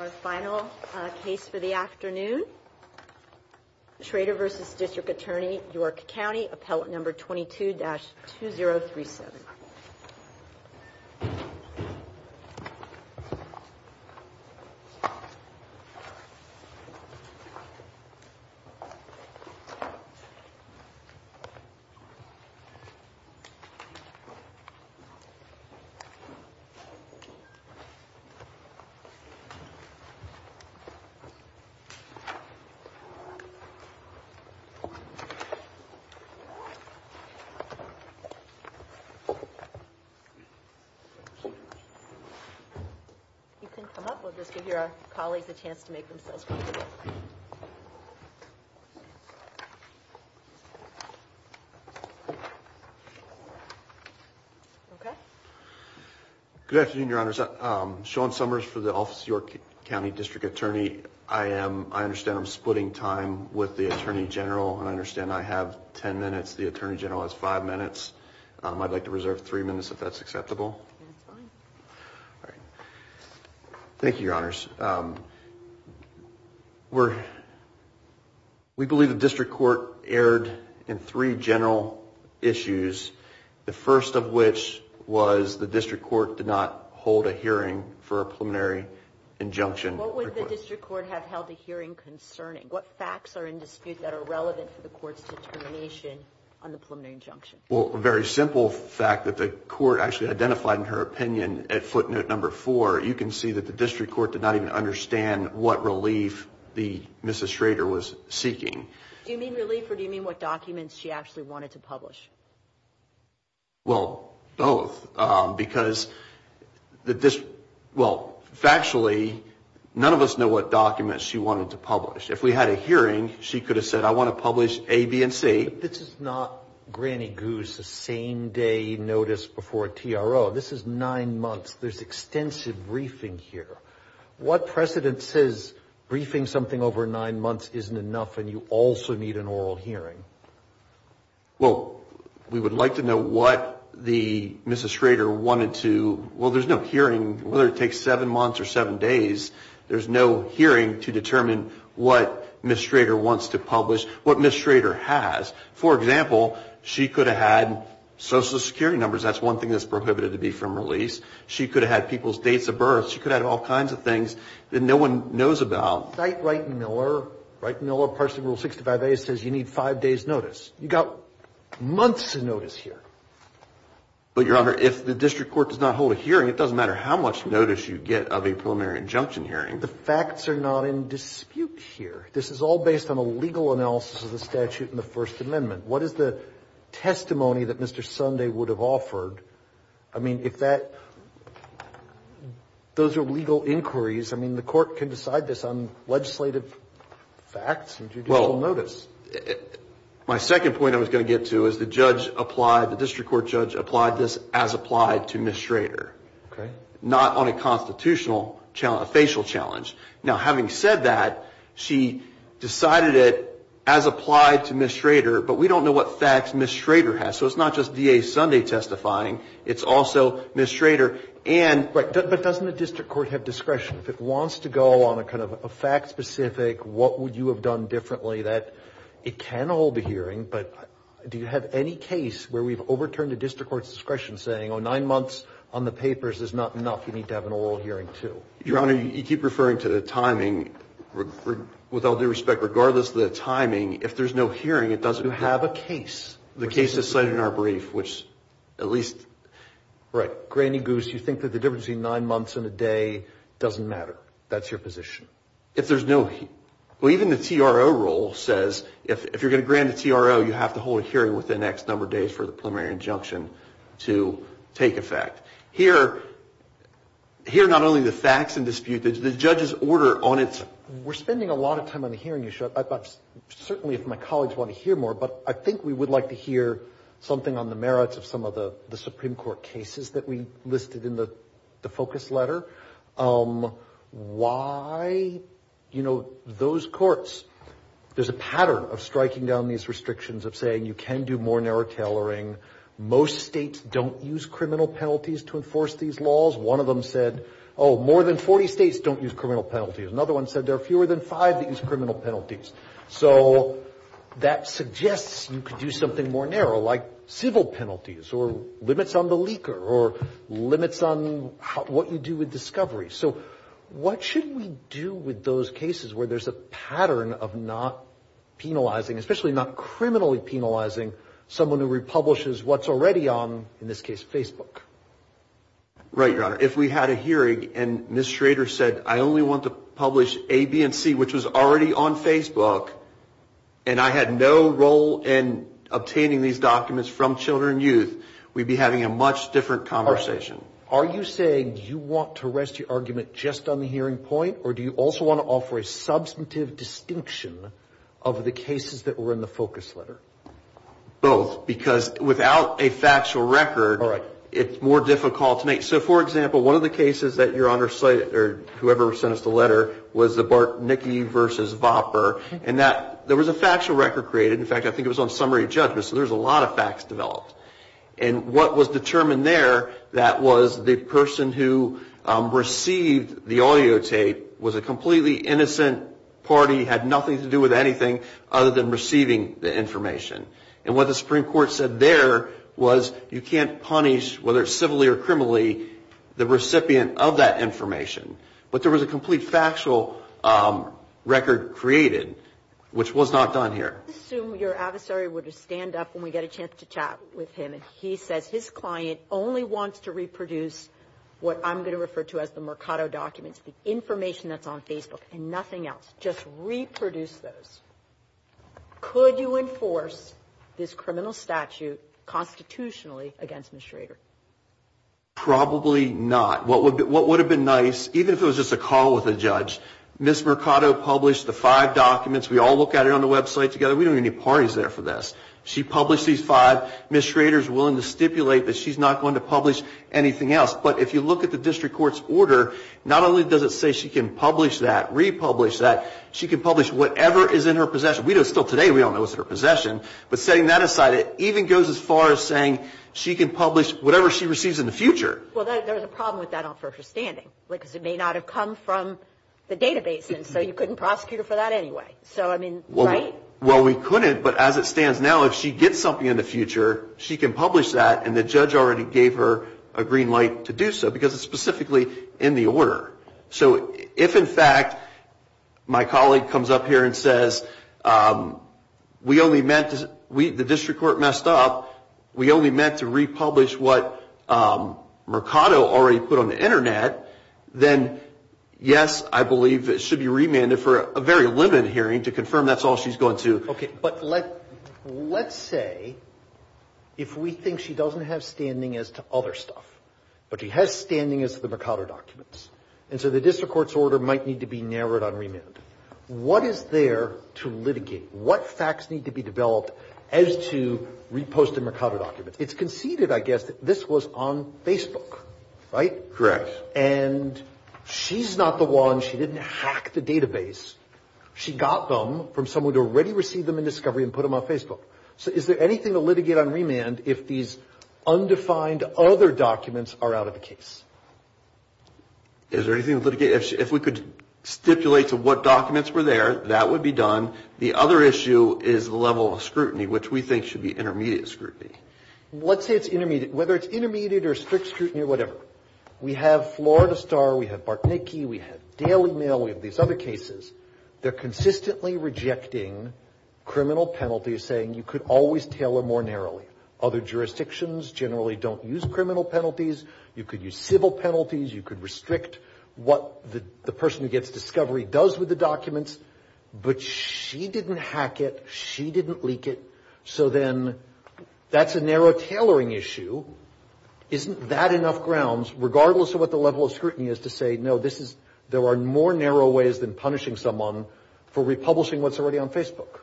Our final case for the afternoon, Schrader v. District Attorney York County, appellate number 22-2037. You can come up. We'll just give your colleagues a chance to make themselves comfortable. Good afternoon, Your Honors. Sean Summers for the Office of York County District Attorney. I am, I understand I'm splitting time with the Attorney General and I understand I have 10 minutes. The Attorney General has five minutes. I'd like to reserve three minutes if that's acceptable. Thank you, Your Honors. We believe the District Court erred in three general issues, the first of which was the District Court did not hold a hearing for a preliminary injunction. What would the District Court have held a hearing concerning? What facts are in dispute that are relevant for the Court's determination on the preliminary injunction? Well, a very simple fact that the Court actually identified in her opinion at footnote number four, you can see that the District Court did not even understand what relief the Mrs. Schrader was seeking. Do you mean relief or do you mean what documents she actually wanted to publish? Well, both, because the, well, factually, none of us know what documents she wanted to publish. If we had a hearing, she could have said, I want to publish A, B, and C. But this is not granny goose, a same day notice before a TRO. This is nine months. There's extensive briefing here. What precedent says briefing something over nine months isn't enough and you also need an oral hearing? Well, we would like to know what the Mrs. Schrader wanted to, well, there's no hearing, whether it takes seven months or seven days, there's no hearing to determine what Mrs. Schrader wants to publish, what Mrs. Schrader has. For example, she could have had social security numbers. That's one thing that's prohibited to be from release. She could have had people's dates of birth. She could have had all kinds of things that no one knows about. Well, cite Wright and Miller. Wright and Miller, Parsons Rule 65a, says you need five days notice. You've got months of notice here. But, Your Honor, if the district court does not hold a hearing, it doesn't matter how much notice you get of a preliminary injunction hearing. The facts are not in dispute here. This is all based on a legal analysis of the statute in the First Amendment. What is the testimony that Mr. Sunday would have offered? I mean, if that, those are legal inquiries. I mean, the court can decide this on legislative facts and judicial notice. Well, my second point I was going to get to is the judge applied, the district court judge applied this as applied to Mrs. Schrader. Okay. Not on a constitutional, a facial challenge. Now, having said that, she decided it as applied to Mrs. Schrader, but we don't know what facts Mrs. Schrader has. So it's not just D.A. Sunday testifying. It's also Mrs. Schrader and. But doesn't the district court have discretion? If it wants to go on a kind of a fact specific, what would you have done differently that it can hold a hearing, but do you have any case where we've overturned the district court's discretion saying, oh, nine months on the papers is not enough. You need to have an oral hearing, too. Your Honor, you keep referring to the timing. With all due respect, regardless of the timing, if there's no hearing, it doesn't have a case. The case is cited in our brief, which at least. Right. Granny Goose, you think that the difference in nine months and a day doesn't matter. If there's no well, even the T.R.O. role says if you're going to grant a T.R.O., you have to hold a hearing within X number of days for the preliminary injunction to take effect here. Here, not only the facts and dispute the judge's order on it. We're spending a lot of time on the hearing. You should certainly if my colleagues want to hear more. But I think we would like to hear something on the merits of some of the Supreme Court cases that we listed in the focus letter. Why, you know, those courts, there's a pattern of striking down these restrictions of saying you can do more narrow tailoring. Most states don't use criminal penalties to enforce these laws. One of them said, oh, more than 40 states don't use criminal penalties. Another one said there are fewer than five that use criminal penalties. So that suggests you could do something more narrow like civil penalties or limits on the leaker or limits on what you do with discovery. So what should we do with those cases where there's a pattern of not penalizing, especially not criminally penalizing someone who republishes what's already on, in this case, Facebook? Right, Your Honor. If we had a hearing and Ms. Schrader said, I only want to publish A, B, and C, which was already on Facebook, and I had no role in obtaining these documents from children and youth, we'd be having a much different conversation. Are you saying you want to rest your argument just on the hearing point, or do you also want to offer a substantive distinction of the cases that were in the focus letter? Both, because without a factual record, it's more difficult to make. So, for example, one of the cases that Your Honor cited, or whoever sent us the letter, was the Bartnicki v. Vopper, in that there was a factual record created. In fact, I think it was on summary judgment, so there's a lot of facts developed. And what was determined there, that was the person who received the audio tape was a completely innocent party, had nothing to do with anything other than receiving the information. And what the Supreme Court said there was you can't punish, whether it's civilly or criminally, the recipient of that information. But there was a complete factual record created, which was not done here. I assume your adversary would stand up when we get a chance to chat with him, and he says his client only wants to reproduce what I'm going to refer to as the Mercado documents, the information that's on Facebook, and nothing else. Just reproduce those. Could you enforce this criminal statute constitutionally against Ms. Schrader? Probably not. What would have been nice, even if it was just a call with a judge, Ms. Mercado published the five documents. We all look at it on the website together. We don't need any parties there for this. She published these five. Ms. Schrader is willing to stipulate that she's not going to publish anything else. But if you look at the district court's order, not only does it say she can publish that, republish that, she can publish whatever is in her possession. We know still today we don't know what's in her possession. But setting that aside, it even goes as far as saying she can publish whatever she receives in the future. Well, there's a problem with that on first standing, because it may not have come from the database, and so you couldn't prosecute her for that anyway. So, I mean, right? Well, we couldn't. But as it stands now, if she gets something in the future, she can publish that, and the judge already gave her a green light to do so, because it's specifically in the order. So if, in fact, my colleague comes up here and says, we only meant to ‑‑ the district court messed up. We only meant to republish what Mercado already put on the Internet, then, yes, I believe it should be remanded for a very limited hearing to confirm that's all she's going to. Okay. But let's say if we think she doesn't have standing as to other stuff, but she has standing as to the Mercado documents, and so the district court's order might need to be narrowed on remand. What is there to litigate? What facts need to be developed as to reposting Mercado documents? It's conceded, I guess, that this was on Facebook, right? And she's not the one. She didn't hack the database. She got them from someone who had already received them in discovery and put them on Facebook. So is there anything to litigate on remand if these undefined other documents are out of the case? Is there anything to litigate? If we could stipulate to what documents were there, that would be done. The other issue is the level of scrutiny, which we think should be intermediate scrutiny. Let's say it's intermediate. Whether it's intermediate or strict scrutiny or whatever. We have Florida Star. We have Bartnicki. We have Daily Mail. We have these other cases. They're consistently rejecting criminal penalties, saying you could always tailor more narrowly. Other jurisdictions generally don't use criminal penalties. You could use civil penalties. You could restrict what the person who gets discovery does with the documents. But she didn't hack it. She didn't leak it. So then that's a narrow tailoring issue. Isn't that enough grounds, regardless of what the level of scrutiny is, to say, no, there are more narrow ways than punishing someone for republishing what's already on Facebook?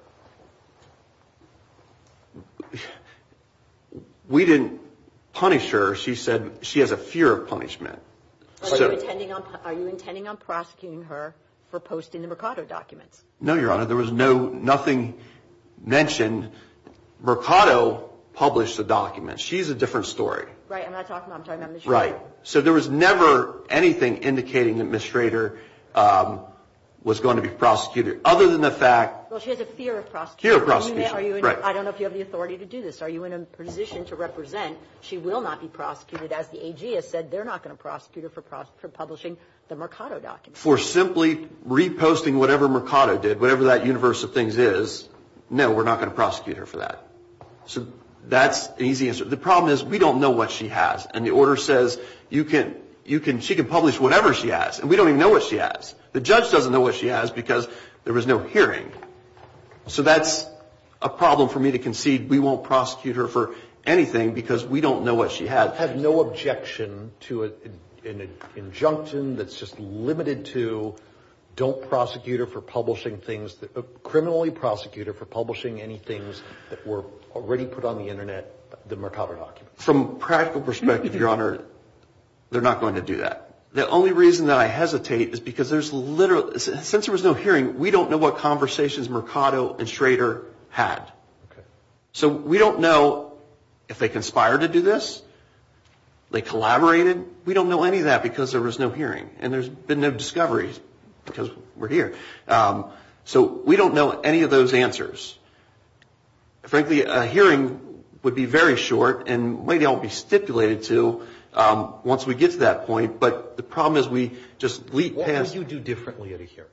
We didn't punish her. She said she has a fear of punishment. Are you intending on prosecuting her for posting the Mercado documents? No, Your Honor. There was nothing mentioned. Mercado published the documents. She's a different story. Right. I'm not talking about her. I'm talking about Michelle. Right. So there was never anything indicating that Ms. Schrader was going to be prosecuted, other than the fact. Well, she has a fear of prosecution. Fear of prosecution. Right. I don't know if you have the authority to do this. Are you in a position to represent she will not be prosecuted, as the AG has said, they're not going to prosecute her for publishing the Mercado documents? For simply reposting whatever Mercado did, whatever that universe of things is, no, we're not going to prosecute her for that. So that's an easy answer. The problem is we don't know what she has. And the order says she can publish whatever she has. And we don't even know what she has. The judge doesn't know what she has because there was no hearing. So that's a problem for me to concede we won't prosecute her for anything because we don't know what she has. I have no objection to an injunction that's just limited to don't prosecute her for publishing things, criminally prosecute her for publishing any things that were already put on the Internet, the Mercado documents. From a practical perspective, Your Honor, they're not going to do that. The only reason that I hesitate is because there's literally, since there was no hearing, we don't know what conversations Mercado and Schrader had. So we don't know if they conspired to do this, they collaborated. We don't know any of that because there was no hearing. And there's been no discoveries because we're here. So we don't know any of those answers. Frankly, a hearing would be very short and maybe I won't be stipulated to once we get to that point, but the problem is we just leap past. What would you do differently at a hearing?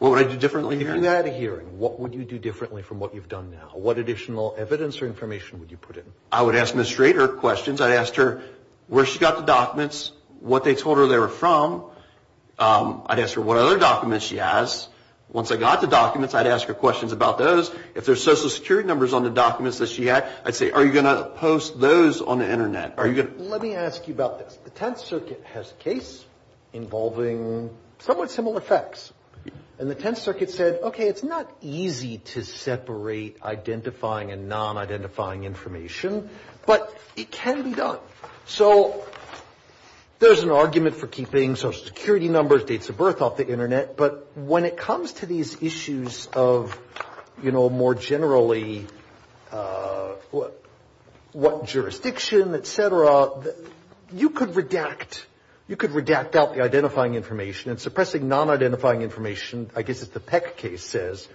What would I do differently? If you had a hearing, what would you do differently from what you've done now? What additional evidence or information would you put in? I would ask Ms. Schrader questions. I'd ask her where she got the documents, what they told her they were from. I'd ask her what other documents she has. Once I got the documents, I'd ask her questions about those. If there's Social Security numbers on the documents that she had, I'd say, are you going to post those on the Internet? Let me ask you about this. The Tenth Circuit has a case involving somewhat similar facts. And the Tenth Circuit said, okay, it's not easy to separate identifying and non-identifying information, but it can be done. So there's an argument for keeping Social Security numbers, dates of birth off the Internet, but when it comes to these issues of, you know, more generally what jurisdiction, et cetera, you could redact, you could redact out the identifying information and suppressing non-identifying information, I guess as the Peck case says,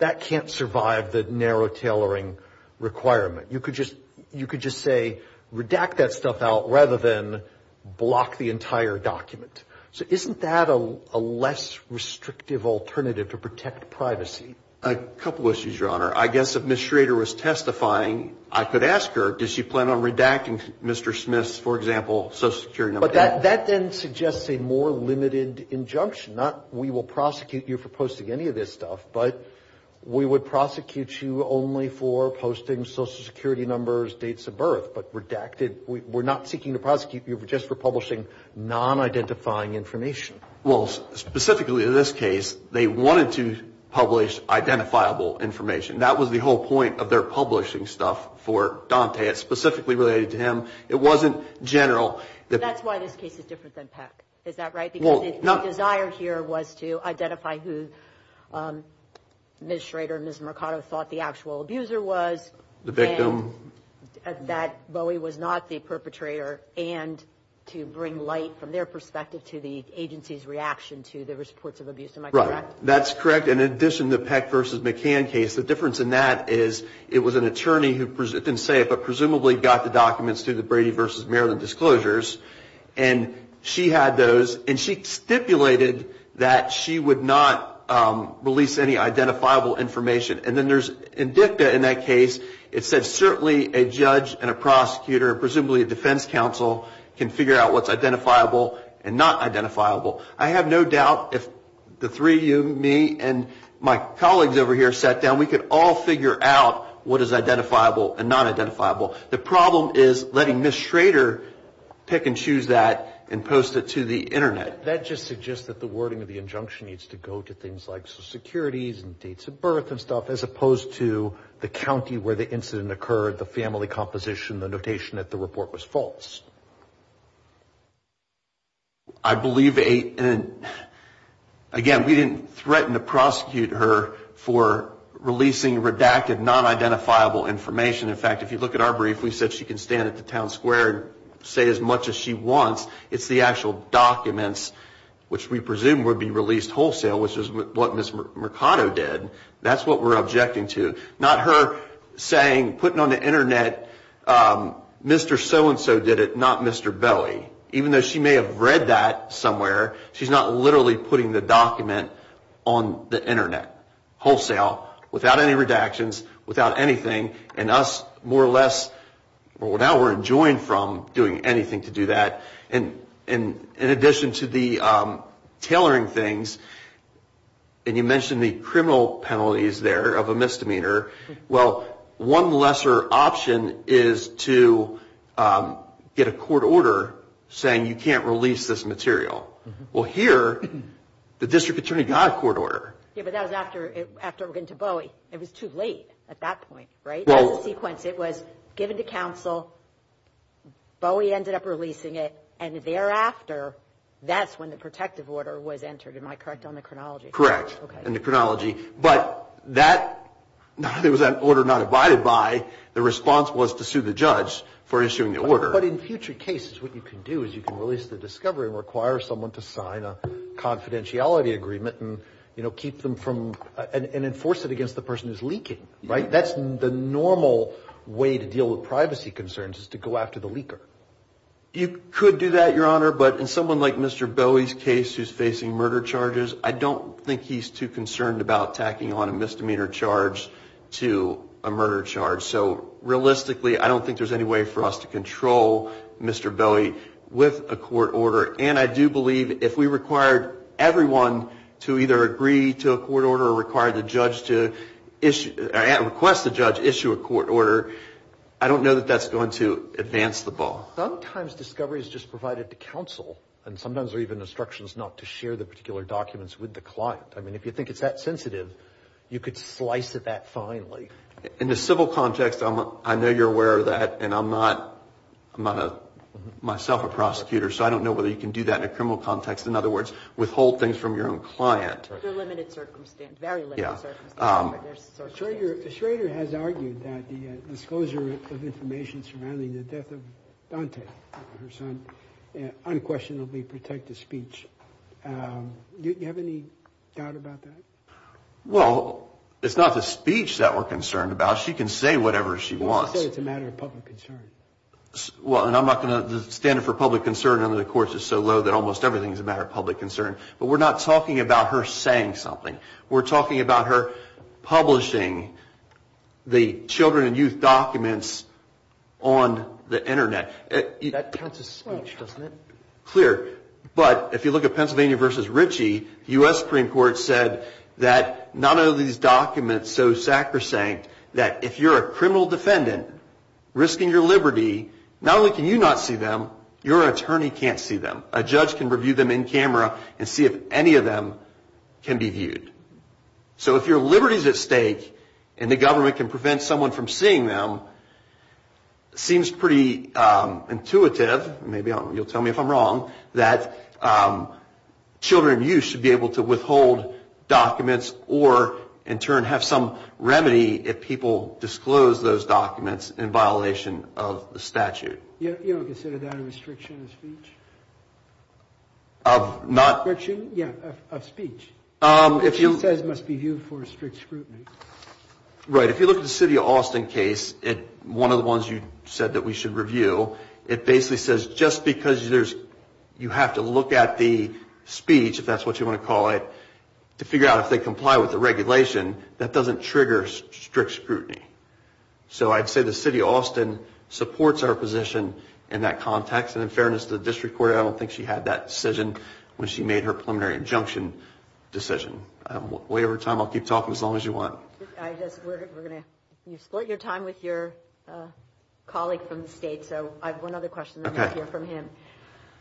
that can't survive the narrow tailoring requirement. You could just say, redact that stuff out rather than block the entire document. So isn't that a less restrictive alternative to protect privacy? A couple of issues, Your Honor. I guess if Ms. Schrader was testifying, I could ask her, does she plan on redacting Mr. Smith's, for example, Social Security number? But that then suggests a more limited injunction, not we will prosecute you for posting any of this stuff, but we would prosecute you only for posting Social Security numbers, dates of birth, but redacted. We're not seeking to prosecute you just for publishing non-identifying information. Well, specifically in this case, they wanted to publish identifiable information. That was the whole point of their publishing stuff for Dante. It's specifically related to him. It wasn't general. That's why this case is different than Peck. Is that right? Because the desire here was to identify who Ms. Schrader and Ms. Mercado thought the actual abuser was. The victim. That Bowie was not the perpetrator, and to bring light from their perspective to the agency's reaction to the reports of abuse. Am I correct? Right. That's correct. In addition to the Peck v. McCann case, the difference in that is it was an attorney who, I didn't say it, but presumably got the documents through the Brady v. Maryland disclosures, and she had those, and she stipulated that she would not release any identifiable information. And then there's, in DICTA in that case, it said certainly a judge and a prosecutor, presumably a defense counsel, can figure out what's identifiable and not identifiable. I have no doubt if the three of you, me, and my colleagues over here sat down, we could all figure out what is identifiable and not identifiable. The problem is letting Ms. Schrader pick and choose that and post it to the Internet. That just suggests that the wording of the injunction needs to go to things like and dates of birth and stuff, as opposed to the county where the incident occurred, the family composition, the notation that the report was false. I believe, again, we didn't threaten to prosecute her for releasing redacted, non-identifiable information. In fact, if you look at our brief, we said she can stand at the town square and say as much as she wants. It's the actual documents, which we presume would be released wholesale, which is what Ms. Mercado did. That's what we're objecting to. Not her saying, putting on the Internet, Mr. So-and-so did it, not Mr. Bowie. Even though she may have read that somewhere, she's not literally putting the document on the Internet, wholesale, without any redactions, without anything. And us, more or less, now we're enjoined from doing anything to do that. In addition to the tailoring things, and you mentioned the criminal penalties there of a misdemeanor, well, one lesser option is to get a court order saying you can't release this material. Well, here, the district attorney got a court order. Yeah, but that was after it went to Bowie. It was too late at that point, right? It was a sequence. Well, Bowie ended up releasing it, and thereafter, that's when the protective order was entered. Am I correct on the chronology? Correct. Okay. In the chronology. But that, there was an order not abided by. The response was to sue the judge for issuing the order. But in future cases, what you can do is you can release the discovery and require someone to sign a confidentiality agreement and, you know, keep them from, and enforce it against the person who's leaking, right? That's the normal way to deal with privacy concerns is to go after the leaker. You could do that, Your Honor, but in someone like Mr. Bowie's case who's facing murder charges, I don't think he's too concerned about tacking on a misdemeanor charge to a murder charge. So, realistically, I don't think there's any way for us to control Mr. Bowie with a court order. And I do believe if we required everyone to either agree to a court order or required the judge to issue, request the judge to issue a court order, I don't know that that's going to advance the ball. Sometimes discovery is just provided to counsel, and sometimes there are even instructions not to share the particular documents with the client. I mean, if you think it's that sensitive, you could slice it that finely. In the civil context, I know you're aware of that, and I'm not myself a prosecutor, so I don't know whether you can do that in a criminal context. In other words, withhold things from your own client. Under limited circumstances. Very limited circumstances. Schrader has argued that the disclosure of information surrounding the death of Dante, her son, unquestionably protect the speech. Do you have any doubt about that? Well, it's not the speech that we're concerned about. She can say whatever she wants. Well, she said it's a matter of public concern. Well, and I'm not going to – the standard for public concern under the court is so low that almost everything is a matter of public concern. But we're not talking about her saying something. We're talking about her publishing the children and youth documents on the Internet. That counts as speech, doesn't it? Clear. But if you look at Pennsylvania v. Ritchie, the U.S. Supreme Court said that none of these documents so sacrosanct that if you're a criminal defendant risking your liberty, not only can you not see them, your attorney can't see them. A judge can review them in camera and see if any of them can be viewed. So if your liberty is at stake and the government can prevent someone from seeing them, it seems pretty intuitive – maybe you'll tell me if I'm wrong – that children and youth should be able to withhold documents or in turn have some remedy if people disclose those documents in violation of the statute. You don't consider that a restriction of speech? Of not – Yeah, of speech. If she says it must be viewed for strict scrutiny. Right. If you look at the city of Austin case, one of the ones you said that we should review, it basically says just because you have to look at the speech, if that's what you want to call it, to figure out if they comply with the regulation, that doesn't trigger strict scrutiny. So I'd say the city of Austin supports our position in that context, and in fairness to the district court, I don't think she had that decision when she made her preliminary injunction decision. Wait for your time. I'll keep talking as long as you want. We're going to – you've split your time with your colleague from the state, so I have one other question then we'll hear from him.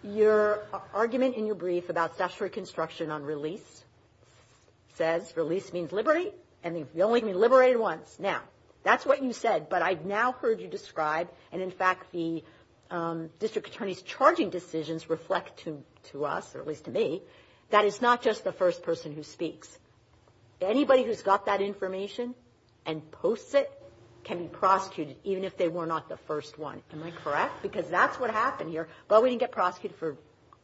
Your argument in your brief about statutory construction on release says release means liberty, and you only can be liberated once. Now, that's what you said, but I've now heard you describe, and in fact the district attorney's charging decisions reflect to us, or at least to me, that it's not just the first person who speaks. Anybody who's got that information and posts it can be prosecuted, even if they were not the first one. Am I correct? Because that's what happened here. But we didn't get prosecuted for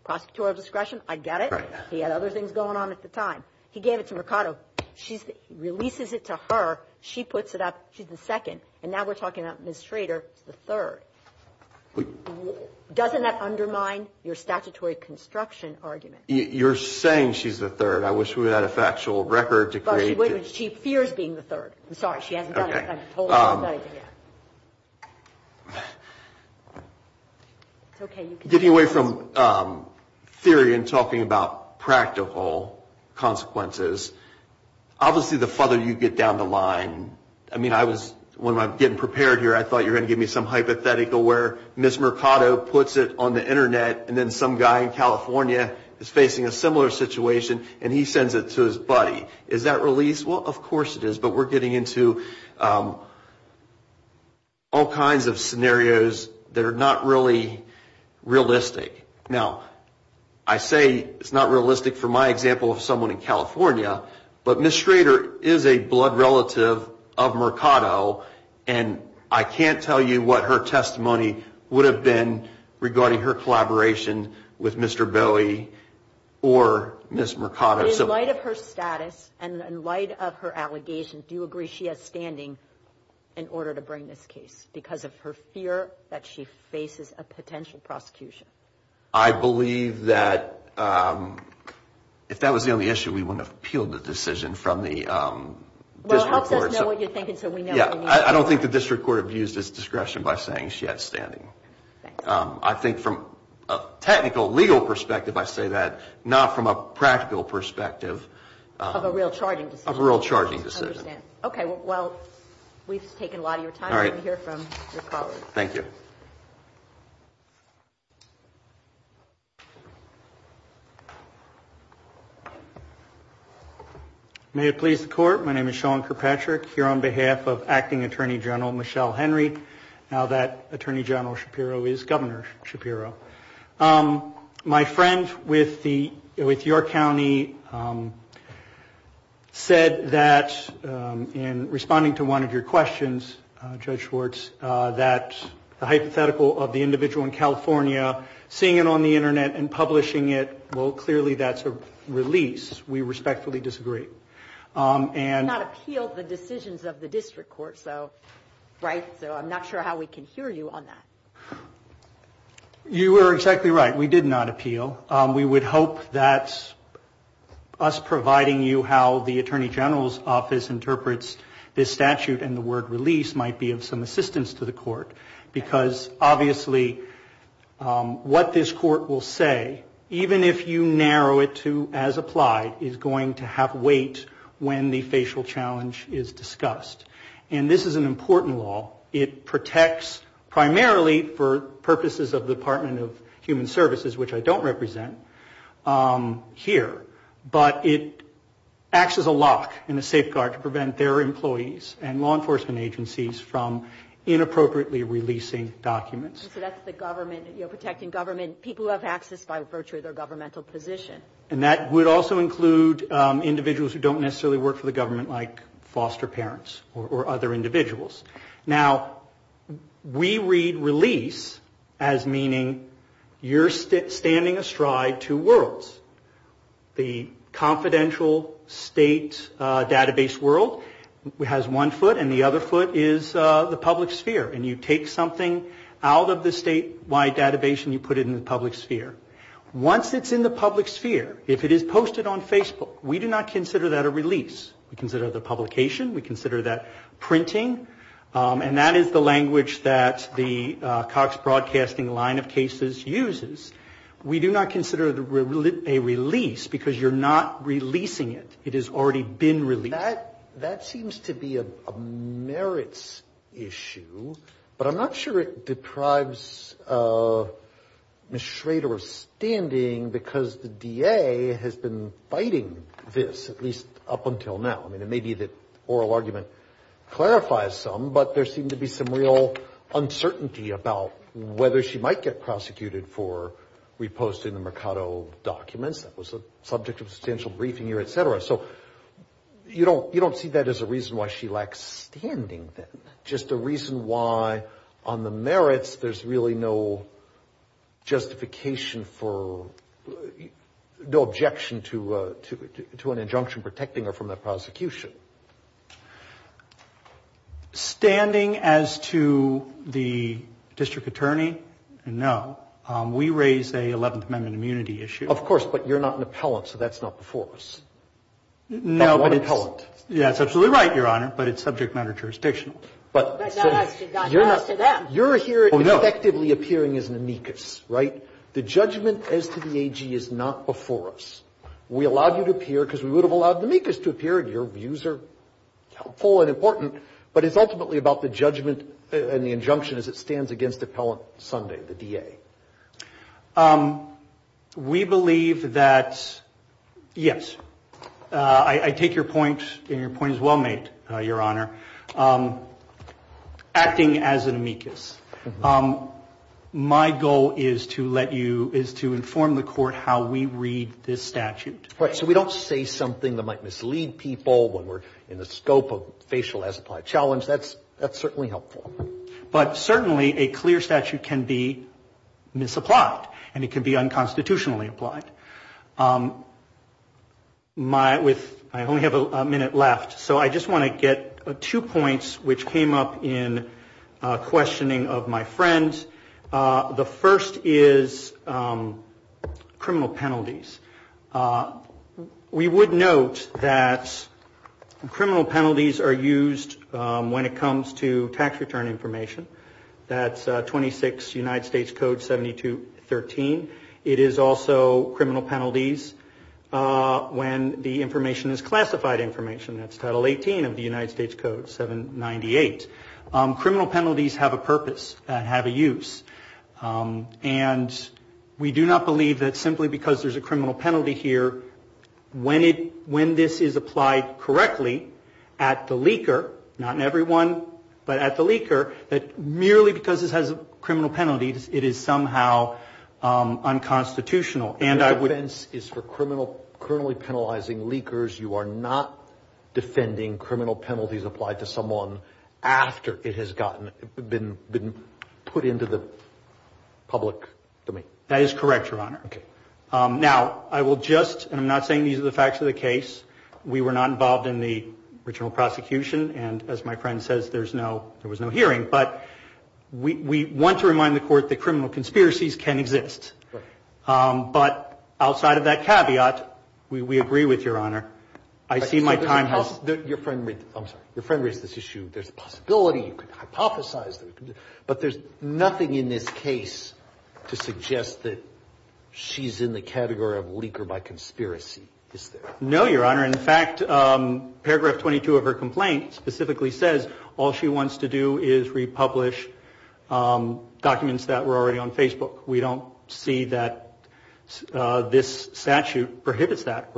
prosecutorial discretion. I get it. He had other things going on at the time. He gave it to Mercado. She releases it to her. She puts it up. She's the second. And now we're talking about Ms. Schrader, the third. Doesn't that undermine your statutory construction argument? You're saying she's the third. I wish we had a factual record to create it. But she fears being the third. I'm sorry. She hasn't done it. I'm told she hasn't done it yet. It's okay. Getting away from theory and talking about practical consequences, obviously the further you get down the line, I mean, when I was getting prepared here, I thought you were going to give me some hypothetical where Ms. Mercado puts it on the Internet and then some guy in California is facing a similar situation and he sends it to his buddy. Is that release? Well, of course it is. But we're getting into all kinds of scenarios that are not really realistic. Now, I say it's not realistic for my example of someone in California, but Ms. Schrader is a blood relative of Mercado, and I can't tell you what her testimony would have been regarding her collaboration with Mr. Bowie or Ms. Mercado. But in light of her status and in light of her allegations, do you agree she has standing in order to bring this case because of her fear that she faces a potential prosecution? I believe that if that was the only issue, we wouldn't have appealed the decision from the district court. Well, it helps us know what you're thinking so we know what you mean. Yeah. I don't think the district court abused its discretion by saying she has standing. I think from a technical legal perspective, I say that not from a practical perspective. Of a real charging decision. Of a real charging decision. I understand. Okay. Well, we've taken a lot of your time. All right. Let me hear from your colleagues. Thank you. May it please the Court, my name is Sean Kirkpatrick. Here on behalf of Acting Attorney General Michelle Henry, now that Attorney General Shapiro is Governor Shapiro. My friend with York County said that in responding to one of your questions, Judge Schwartz, that the hypothetical of the individual in California, seeing it on the internet and publishing it, well clearly that's a release. We respectfully disagree. We have not appealed the decisions of the district court. So I'm not sure how we can hear you on that. You are exactly right. We did not appeal. We would hope that us providing you how the Attorney General's office interprets this statute and the word release might be of some assistance to the court. Because obviously what this court will say, even if you narrow it to as applied, is going to have weight when the facial challenge is discussed. And this is an important law. It protects primarily for purposes of the Department of Human Services, which I don't represent here. But it acts as a lock and a safeguard to prevent their employees and law enforcement agencies from inappropriately releasing documents. So that's the government, you know, protecting government, people who have access by virtue of their governmental position. And that would also include individuals who don't necessarily work for the government like foster parents or other individuals. Now we read release as meaning you're standing astride two worlds. The confidential state database world has one foot and the other foot is the public sphere. And you take something out of the statewide database and you put it in the public sphere. Once it's in the public sphere, if it is posted on Facebook, we do not consider that a release. We consider the publication, we consider that printing and that is the language that the Cox Broadcasting line of cases uses. We do not consider a release because you're not releasing it. It has already been released. That seems to be a merits issue, but I'm not sure it deprives Ms. Schrader of standing because the DA has been fighting this, at least up until now. I mean, it may be that oral argument clarifies some, but there seemed to be some real uncertainty about whether she might get prosecuted for reposting the Mercado documents. That was a subject of substantial briefing here, et cetera. So you don't see that as a reason why she lacks standing then, just a reason why on the merits there's really no justification for, no objection to an injunction protecting her from that prosecution. Standing as to the district attorney, no. We raise a 11th Amendment immunity issue. Of course, but you're not an appellant, so that's not before us. No, but it's. I'm not an appellant. Yeah, that's absolutely right, Your Honor, but it's subject matter jurisdictional. But not as to them. You're here effectively appearing as an amicus, right? The judgment as to the AG is not before us. We allowed you to appear because we would have allowed the amicus to appear, and your views are helpful and important, but it's ultimately about the judgment and the injunction as it stands against Appellant Sunday, the DA. We believe that, yes, I take your point, and your point is well made, Your Honor, acting as an amicus. My goal is to let you, is to inform the Court how we read this statute. Right. So we don't say something that might mislead people when we're in the scope of facial as-applied challenge. That's certainly helpful. But certainly a clear statute can be misapplied, and it can be unconstitutionally applied. I only have a minute left, so I just want to get two points which came up in questioning of my friend. The first is criminal penalties. We would note that criminal penalties are used when it comes to tax return information. That's 26 United States Code 7213. It is also criminal penalties when the information is classified information. That's Title 18 of the United States Code 798. Criminal penalties have a purpose and have a use, and we do not believe that simply because there's a criminal penalty here, when this is applied correctly at the leaker, not in everyone, but at the leaker, that merely because this has criminal penalties, it is somehow unconstitutional. And I would The defense is for criminally penalizing leakers. You are not defending criminal penalties applied to someone after it has been put into the public domain. That is correct, Your Honor. Now, I will just, and I'm not saying these are the facts of the case, we were not involved in the original prosecution, and as my friend says, there was no hearing. But we want to remind the Court that criminal conspiracies can exist. But outside of that caveat, we agree with Your Honor. I see my time has Your friend raised this issue. There's a possibility you could hypothesize, but there's nothing in this case to suggest that she's in the category of leaker by conspiracy, is there? No, Your Honor. In fact, paragraph 22 of her complaint specifically says all she wants to do is republish documents that were already on Facebook. We don't see that this statute prohibits that.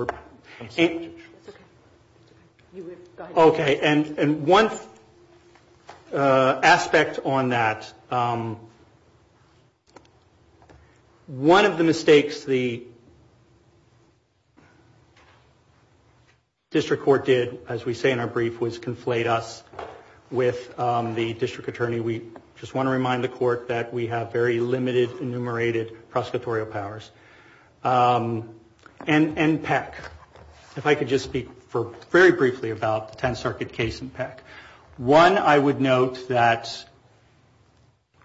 Okay, and one aspect on that. One of the mistakes the District Court did, as we say in our brief, was conflate us with the District Attorney. We just want to remind the Court that we have very limited, enumerated prosecutorial powers. And Peck. If I could just speak very briefly about the 10th Circuit case and Peck. One, I would note that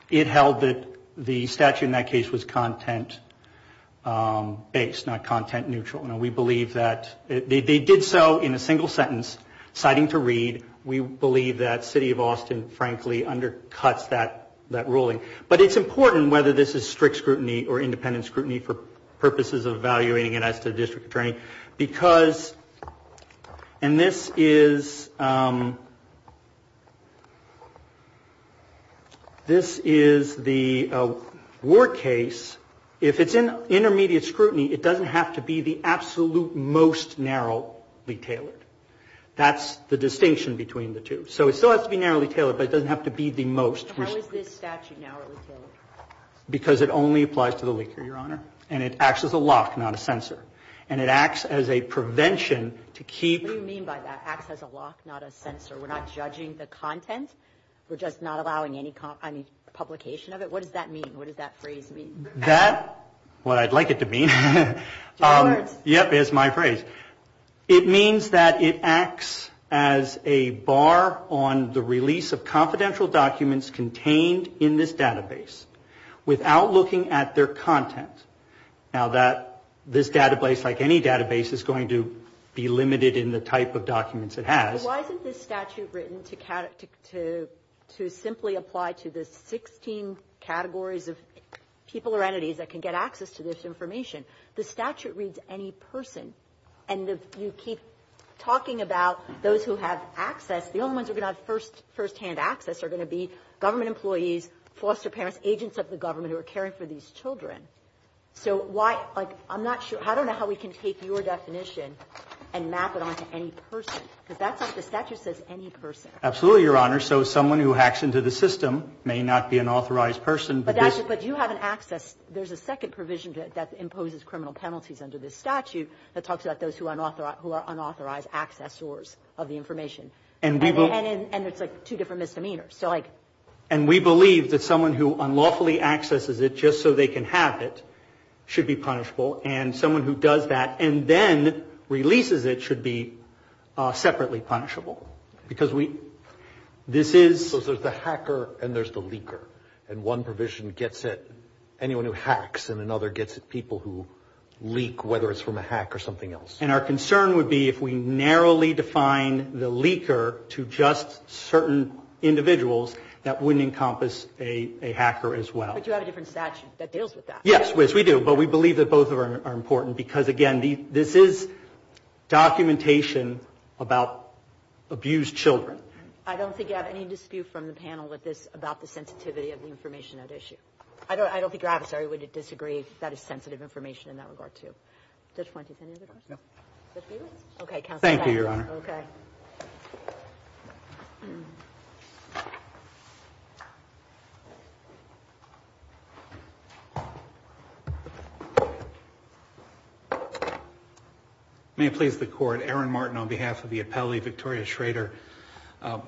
it held that the statute in that case was content-based, not content-neutral. Now, we believe that they did so in a single sentence, citing to Reed. We believe that City of Austin, frankly, undercuts that ruling. But it's important, whether this is strict scrutiny or independent scrutiny for purposes of evaluating it as to the District Attorney, because, and this is this is the Ward case. If it's in intermediate scrutiny, it doesn't have to be the absolute most narrowly tailored. That's the distinction between the two. So it still has to be narrowly tailored, but it doesn't have to be the most. How is this statute narrowly tailored? Because it only applies to the liquor, Your Honor. And it acts as a lock, not a censor. And it acts as a prevention to keep What do you mean by that? Acts as a lock, not a censor? We're not judging the content? We're just not allowing any publication of it? What does that mean? What does that phrase mean? That, what I'd like it to mean. General words. Yep, is my phrase. It means that it acts as a bar on the release of confidential documents contained in this database without looking at their content. Now that this database, like any database, is going to be limited in the type of documents it has. Why isn't this statute written to simply apply to the 16 categories of people or entities that can get access to this information? The statute reads any person. And if you keep talking about those who have access, the only ones who are going to have first-hand access are going to be government employees, foster parents, agents of the government who are caring for these children. So why, like, I'm not sure. I don't know how we can take your definition and map it onto any person, because that's what the statute says, any person. Absolutely, Your Honor. So someone who hacks into the system may not be an authorized person, but this But you have an access. There's a second provision that imposes criminal penalties under this statute that talks about those who are unauthorized accessors of the information. And it's like two different misdemeanors. And we believe that someone who unlawfully accesses it just so they can have it should be punishable. And someone who does that and then releases it should be separately punishable. Because this is So there's the hacker and there's the leaker. And one provision gets at anyone who hacks and another gets at people who leak, whether it's from a hack or something else. And our concern would be if we narrowly define the leaker to just certain individuals, that wouldn't encompass a hacker as well. But you have a different statute that deals with that. Yes, we do. But we believe that both are important because, again, this is documentation about abused children. I don't think you have any dispute from the panel with this about the sensitivity of the information at issue. I don't think your adversary would disagree that it's sensitive information in that regard, too. Judge Point, do you have any other questions? No. Okay, Counsel. Thank you, Your Honor. Okay. Thank you. May it please the Court, Aaron Martin on behalf of the appellee, Victoria Schrader.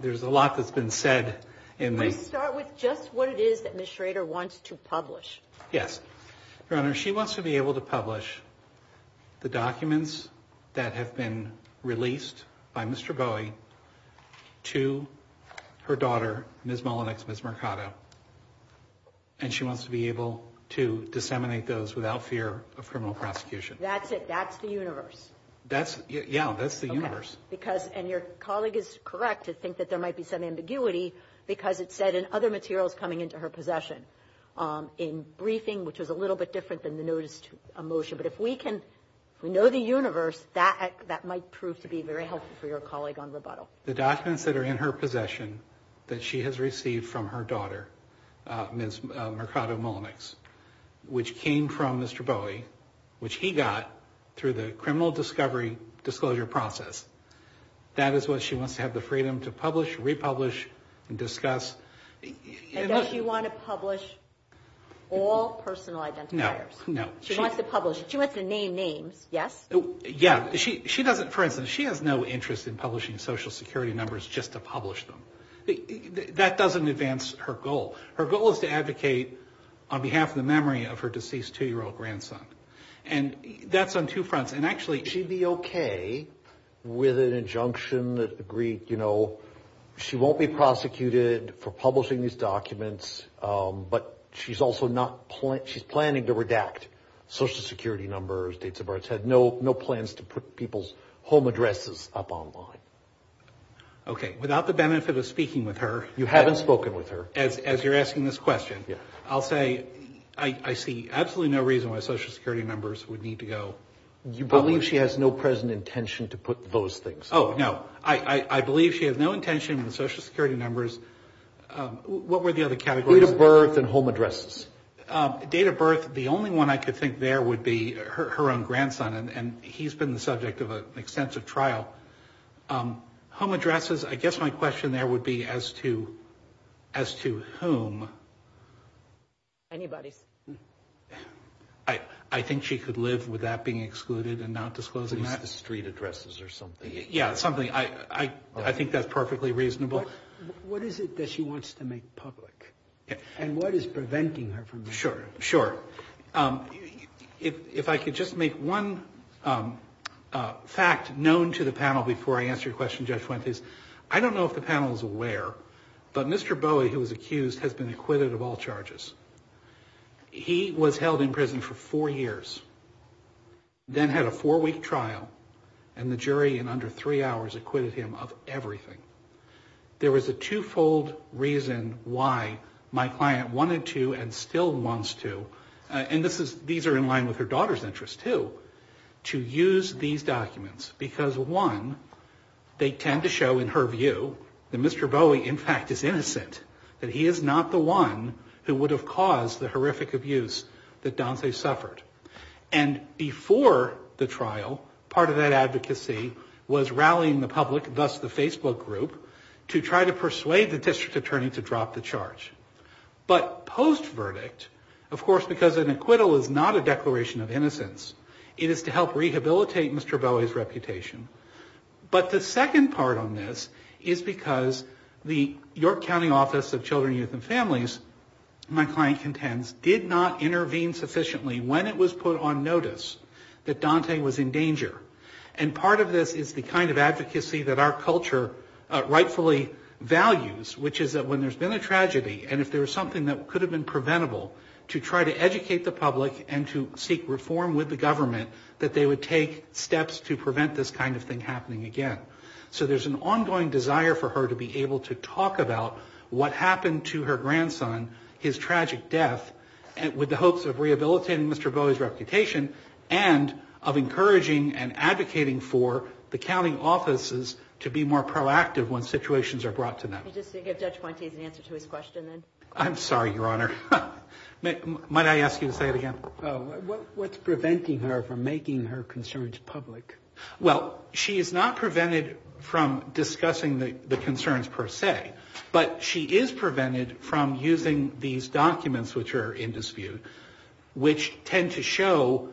There's a lot that's been said in the Let's start with just what it is that Ms. Schrader wants to publish. Yes. Your Honor, she wants to be able to publish the documents that have been released by Mr. Bowie to her daughter, Ms. Mullinex, Ms. Mercado. And she wants to be able to disseminate those without fear of criminal prosecution. That's it. That's the universe. Yeah, that's the universe. And your colleague is correct to think that there might be some ambiguity because it's said in other materials coming into her possession. In briefing, which is a little bit different than the notice to a motion. But if we know the universe, that might prove to be very helpful for your colleague on rebuttal. The documents that are in her possession that she has received from her daughter, Ms. Mercado Mullinex, which came from Mr. Bowie, which he got through the criminal discovery disclosure process, that is what she wants to have the freedom to publish, republish, and discuss. And does she want to publish all personal identifiers? No. She wants to publish. She wants to name names, yes? Yeah. For instance, she has no interest in publishing Social Security numbers just to publish them. That doesn't advance her goal. Her goal is to advocate on behalf of the memory of her deceased two-year-old grandson. And that's on two fronts. And actually, she'd be okay with an injunction that agreed, you know, she won't be prosecuted for publishing these documents, but she's planning to redact Social Security numbers, dates of births. Had no plans to put people's home addresses up online. Okay. Without the benefit of speaking with her. You haven't spoken with her. As you're asking this question, I'll say I see absolutely no reason why Social Security numbers would need to go. You believe she has no present intention to put those things up? Oh, no. I believe she has no intention with Social Security numbers. What were the other categories? Date of birth and home addresses. Date of birth, the only one I could think there would be her own grandson, and he's been the subject of an extensive trial. Home addresses, I guess my question there would be as to whom. Anybody's. I think she could live with that being excluded and not disclosing that. Street addresses or something. Yeah, something. I think that's perfectly reasonable. What is it that she wants to make public? And what is preventing her from doing that? Sure, sure. If I could just make one fact known to the panel before I answer your question, Judge Fuentes, I don't know if the panel is aware, but Mr. Bowie, who was accused, has been acquitted of all charges. He was held in prison for four years, then had a four-week trial, and the jury in under three hours acquitted him of everything. There was a twofold reason why my client wanted to and still wants to, and these are in line with her daughter's interests, too, to use these documents, because, one, they tend to show in her view that Mr. Bowie, in fact, is innocent, that he is not the one who would have caused the horrific abuse that Danse suffered. And before the trial, part of that advocacy was rallying the public, thus the Facebook group, to try to persuade the district attorney to drop the charge. But post-verdict, of course, because an acquittal is not a declaration of innocence, it is to help rehabilitate Mr. Bowie's reputation. But the second part on this is because the York County Office of Children, Youth and Families, my client contends, did not intervene sufficiently when it was put on notice that Dante was in danger. And part of this is the kind of advocacy that our culture rightfully values, which is that when there's been a tragedy, and if there was something that could have been preventable to try to educate the public and to seek reform with the government, that they would take steps to prevent this kind of thing happening again. So there's an ongoing desire for her to be able to talk about what happened to her grandson, his tragic death, with the hopes of rehabilitating Mr. Bowie's reputation, and of encouraging and advocating for the county offices to be more proactive when situations are brought to them. Just to give Judge Pointes an answer to his question, then. I'm sorry, Your Honor. Might I ask you to say it again? What's preventing her from making her concerns public? Well, she is not prevented from discussing the concerns per se, but she is prevented from using these documents which are in dispute, which tend to show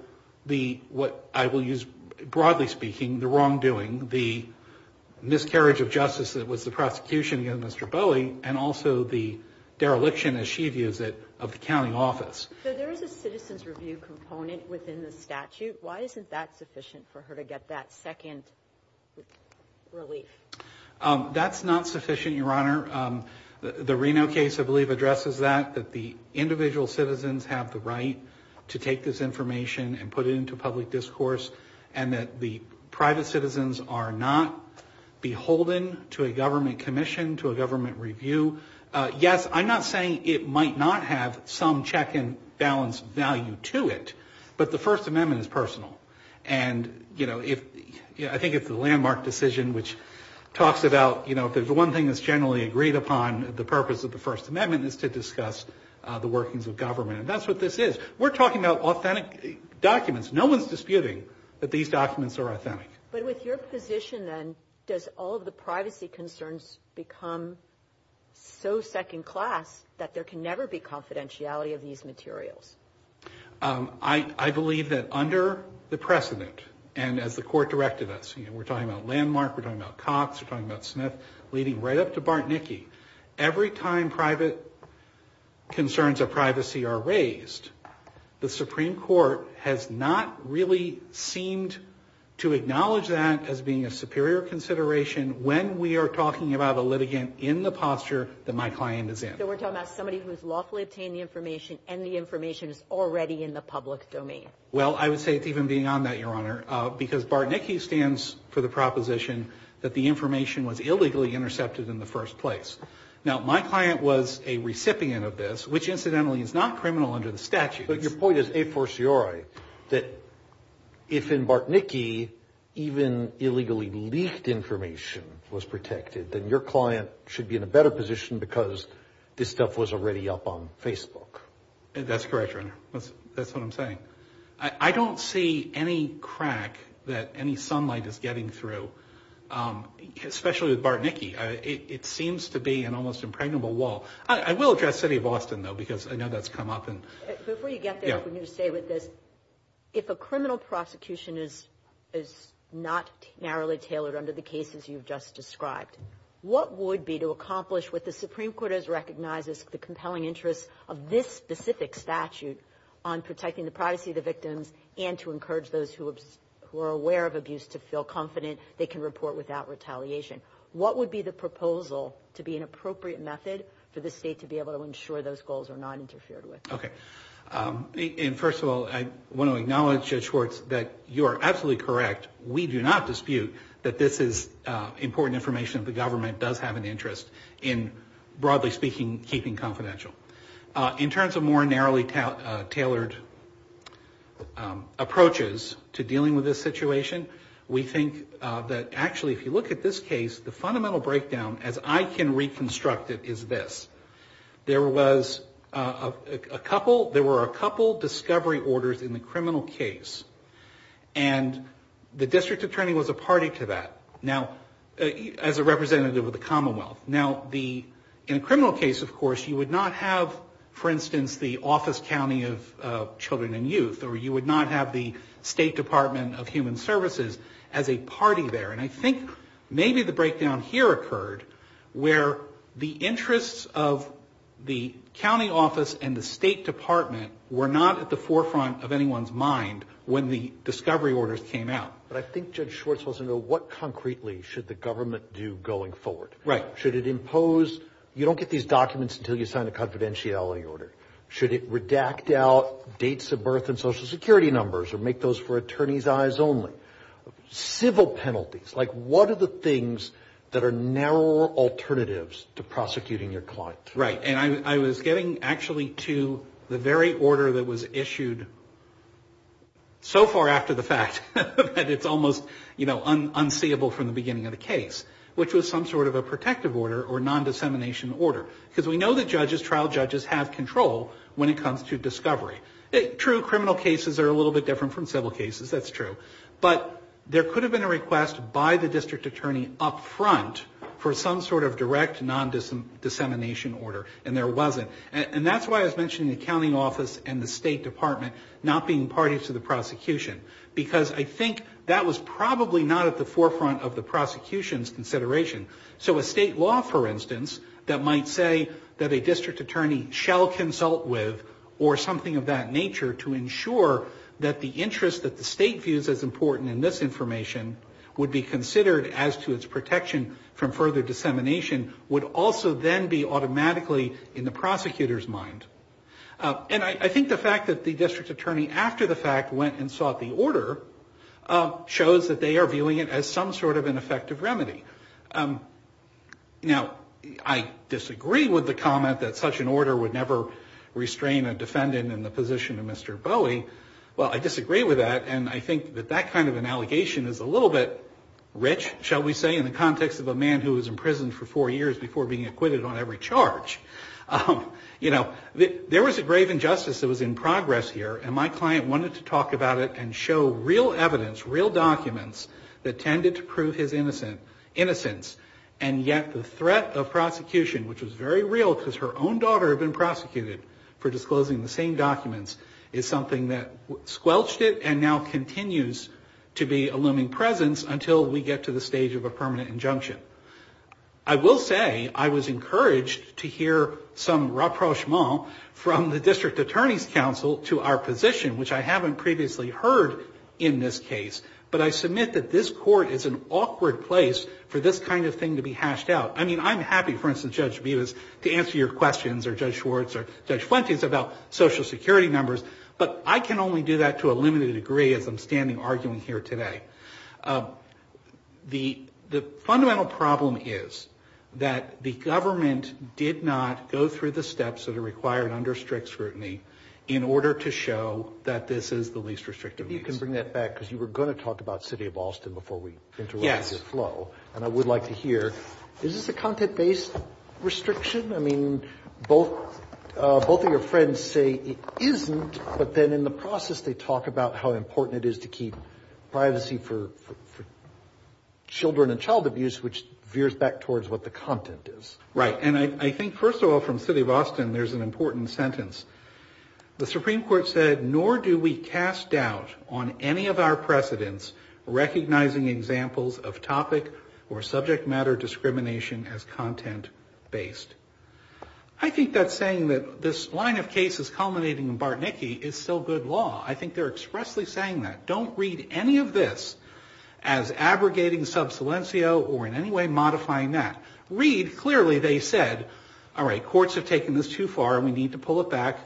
what I will use broadly speaking, the wrongdoing, the miscarriage of justice that was the prosecution against Mr. Bowie, and also the dereliction, as she views it, of the county office. So there is a citizen's review component within the statute. Why isn't that sufficient for her to get that second relief? That's not sufficient, Your Honor. The Reno case, I believe, addresses that, that the individual citizens have the right to take this information and put it into public discourse, and that the private citizens are not beholden to a government commission, to a government review. Yes, I'm not saying it might not have some check and balance value to it, but the First Amendment is personal, and I think it's the landmark decision which talks about if there's one thing that's generally agreed upon, the purpose of the First Amendment is to discuss the workings of government, and that's what this is. We're talking about authentic documents. No one's disputing that these documents are authentic. But with your position, then, does all of the privacy concerns become so second class that there can never be confidentiality of these materials? I believe that under the precedent, and as the Court directed us, we're talking about Landmark, we're talking about Cox, we're talking about Smith, leading right up to Bartnicki. Every time private concerns of privacy are raised, the Supreme Court has not really seemed to acknowledge that as being a superior consideration when we are talking about a litigant in the posture that my client is in. So we're talking about somebody who's lawfully obtained the information and the information is already in the public domain. Well, I would say it's even beyond that, Your Honor, because Bartnicki stands for the proposition that the information was illegally intercepted in the first place. Now, my client was a recipient of this, which incidentally is not criminal under the statutes. But your point is a forciore, that if in Bartnicki, even illegally leaked information was protected, then your client should be in a better position because this stuff was already up on Facebook. That's correct, Your Honor. That's what I'm saying. I don't see any crack that any sunlight is getting through, especially with Bartnicki. It seems to be an almost impregnable wall. I will address the city of Boston, though, because I know that's come up. Before you get there, let me just say with this, if a criminal prosecution is not narrowly tailored under the cases you've just described, what would be to accomplish what the Supreme Court has recognized as the compelling interest of this specific statute on protecting the privacy of the victims and to encourage those who are aware of abuse to feel confident they can report without retaliation? What would be the proposal to be an appropriate method for the state to be able to ensure those goals are not interfered with? Okay. And first of all, I want to acknowledge, Judge Schwartz, that you are absolutely correct. We do not dispute that this is important information that the government does have an interest in, broadly speaking, keeping confidential. In terms of more narrowly tailored approaches to dealing with this situation, we think that, actually, if you look at this case, the fundamental breakdown, as I can reconstruct it, is this. There were a couple discovery orders in the criminal case, and the district attorney was a party to that, as a representative of the Commonwealth. Now, in a criminal case, of course, you would not have, for instance, the Office County of Children and Youth, or you would not have the State Department of Human Services as a party there. And I think maybe the breakdown here occurred, where the interests of the county office and the state department were not at the forefront of anyone's mind when the discovery orders came out. But I think Judge Schwartz wants to know, what concretely should the government do going forward? Right. Should it impose? You don't get these documents until you sign a confidentiality order. Should it redact out dates of birth and Social Security numbers, or make those for attorneys' eyes only? Civil penalties. Like, what are the things that are narrower alternatives to prosecuting your client? Right. And I was getting, actually, to the very order that was issued so far after the fact that it's almost, you know, unseeable from the beginning of the case, which was some sort of a protective order, or non-dissemination order. Because we know that judges, trial judges, have control when it comes to discovery. True, criminal cases are a little bit different from civil cases. That's true. But there could have been a request by the district attorney up front for some sort of direct non-dissemination order, and there wasn't. And that's why I was mentioning the county office and the state department not being parties to the prosecution. Because I think that was probably not at the forefront of the prosecution's consideration. So a state law, for instance, that might say that a district attorney shall consult with or something of that nature to ensure that the interest that the state views as important in this information would be considered as to its protection from further dissemination would also then be automatically in the prosecutor's mind. And I think the fact that the district attorney, after the fact, went and sought the order shows that they are viewing it as some sort of an effective remedy. Now, I disagree with the comment that such an order would never restrain a defendant in the position of Mr. Bowie. Well, I disagree with that, and I think that that kind of an allegation is a little bit rich, shall we say, in the context of a man who was imprisoned for four years before being acquitted on every charge. You know, there was a grave injustice that was in progress here, and my client wanted to talk about it and show real evidence, real documents that tended to prove his innocence, and yet the threat of prosecution, which was very real because her own daughter had been prosecuted for disclosing the same documents, is something that squelched it and now continues to be a looming presence until we get to the stage of a permanent injunction. I will say I was encouraged to hear some rapprochement from the district attorney's counsel to our position, which I haven't previously heard in this case, but I submit that this court is an awkward place for this kind of thing to be hashed out. I mean, I'm happy, for instance, Judge Bevis, to answer your questions or Judge Schwartz or Judge Fuentes about Social Security numbers, but I can only do that to a limited degree as I'm standing arguing here today. The fundamental problem is that the government did not go through the steps that are required under strict scrutiny in order to show that this is the least restrictive means. If you can bring that back, because you were going to talk about City of Austin before we interrupted your flow, and I would like to hear, is this a content-based restriction? I mean, both of your friends say it isn't, but then in the process they talk about how important it is to keep privacy for children and child abuse, which veers back towards what the content is. Right, and I think, first of all, from City of Austin, there's an important sentence. The Supreme Court said, nor do we cast doubt on any of our precedents recognizing examples of topic or subject matter discrimination as content-based. I think that's saying that this line of cases culminating in Bartnicki is still good law. I think they're expressly saying that. Don't read any of this as abrogating sub silencio or in any way modifying that. Read, clearly they said, all right, courts have taken this too far and we need to pull it back.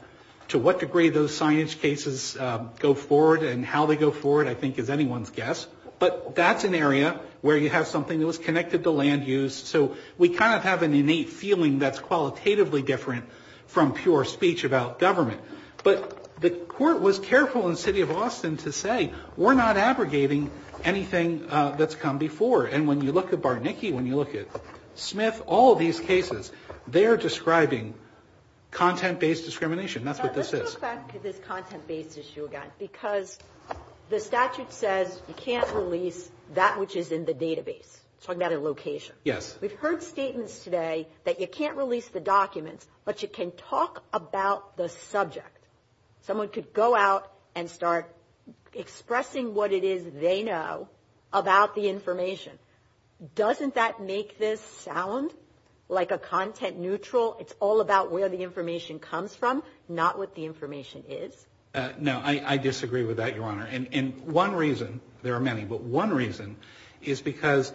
To what degree those signage cases go forward and how they go forward, I think, is anyone's guess. But that's an area where you have something that was connected to land use, so we kind of have an innate feeling that's qualitatively different from pure speech about government. But the court was careful in City of Austin to say, we're not abrogating anything that's come before. And when you look at Bartnicki, when you look at Smith, all these cases, they're describing content-based discrimination. That's what this is. Let's go back to this content-based issue again because the statute says you can't release that which is in the database. It's talking about a location. We've heard statements today that you can't release the documents, but you can talk about the subject. Someone could go out and start expressing what it is they know about the information. Doesn't that make this sound like a content neutral? It's all about where the information comes from, not what the information is? No, I disagree with that, Your Honor. And one reason, there are many, but one reason is because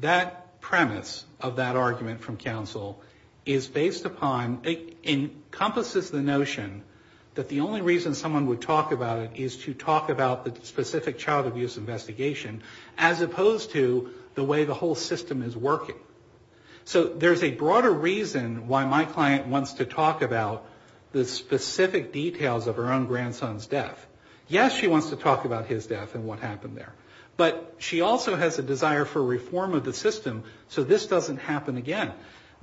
that premise of that argument from counsel is based upon, encompasses the notion that the only reason someone would talk about it is to talk about the specific child abuse investigation, as opposed to the way the whole system is working. So there's a broader reason why my client wants to talk about the specific details of her own grandson's death. Yes, she wants to talk about his death and what happened there. But she also has a desire for reform of the system so this doesn't happen again.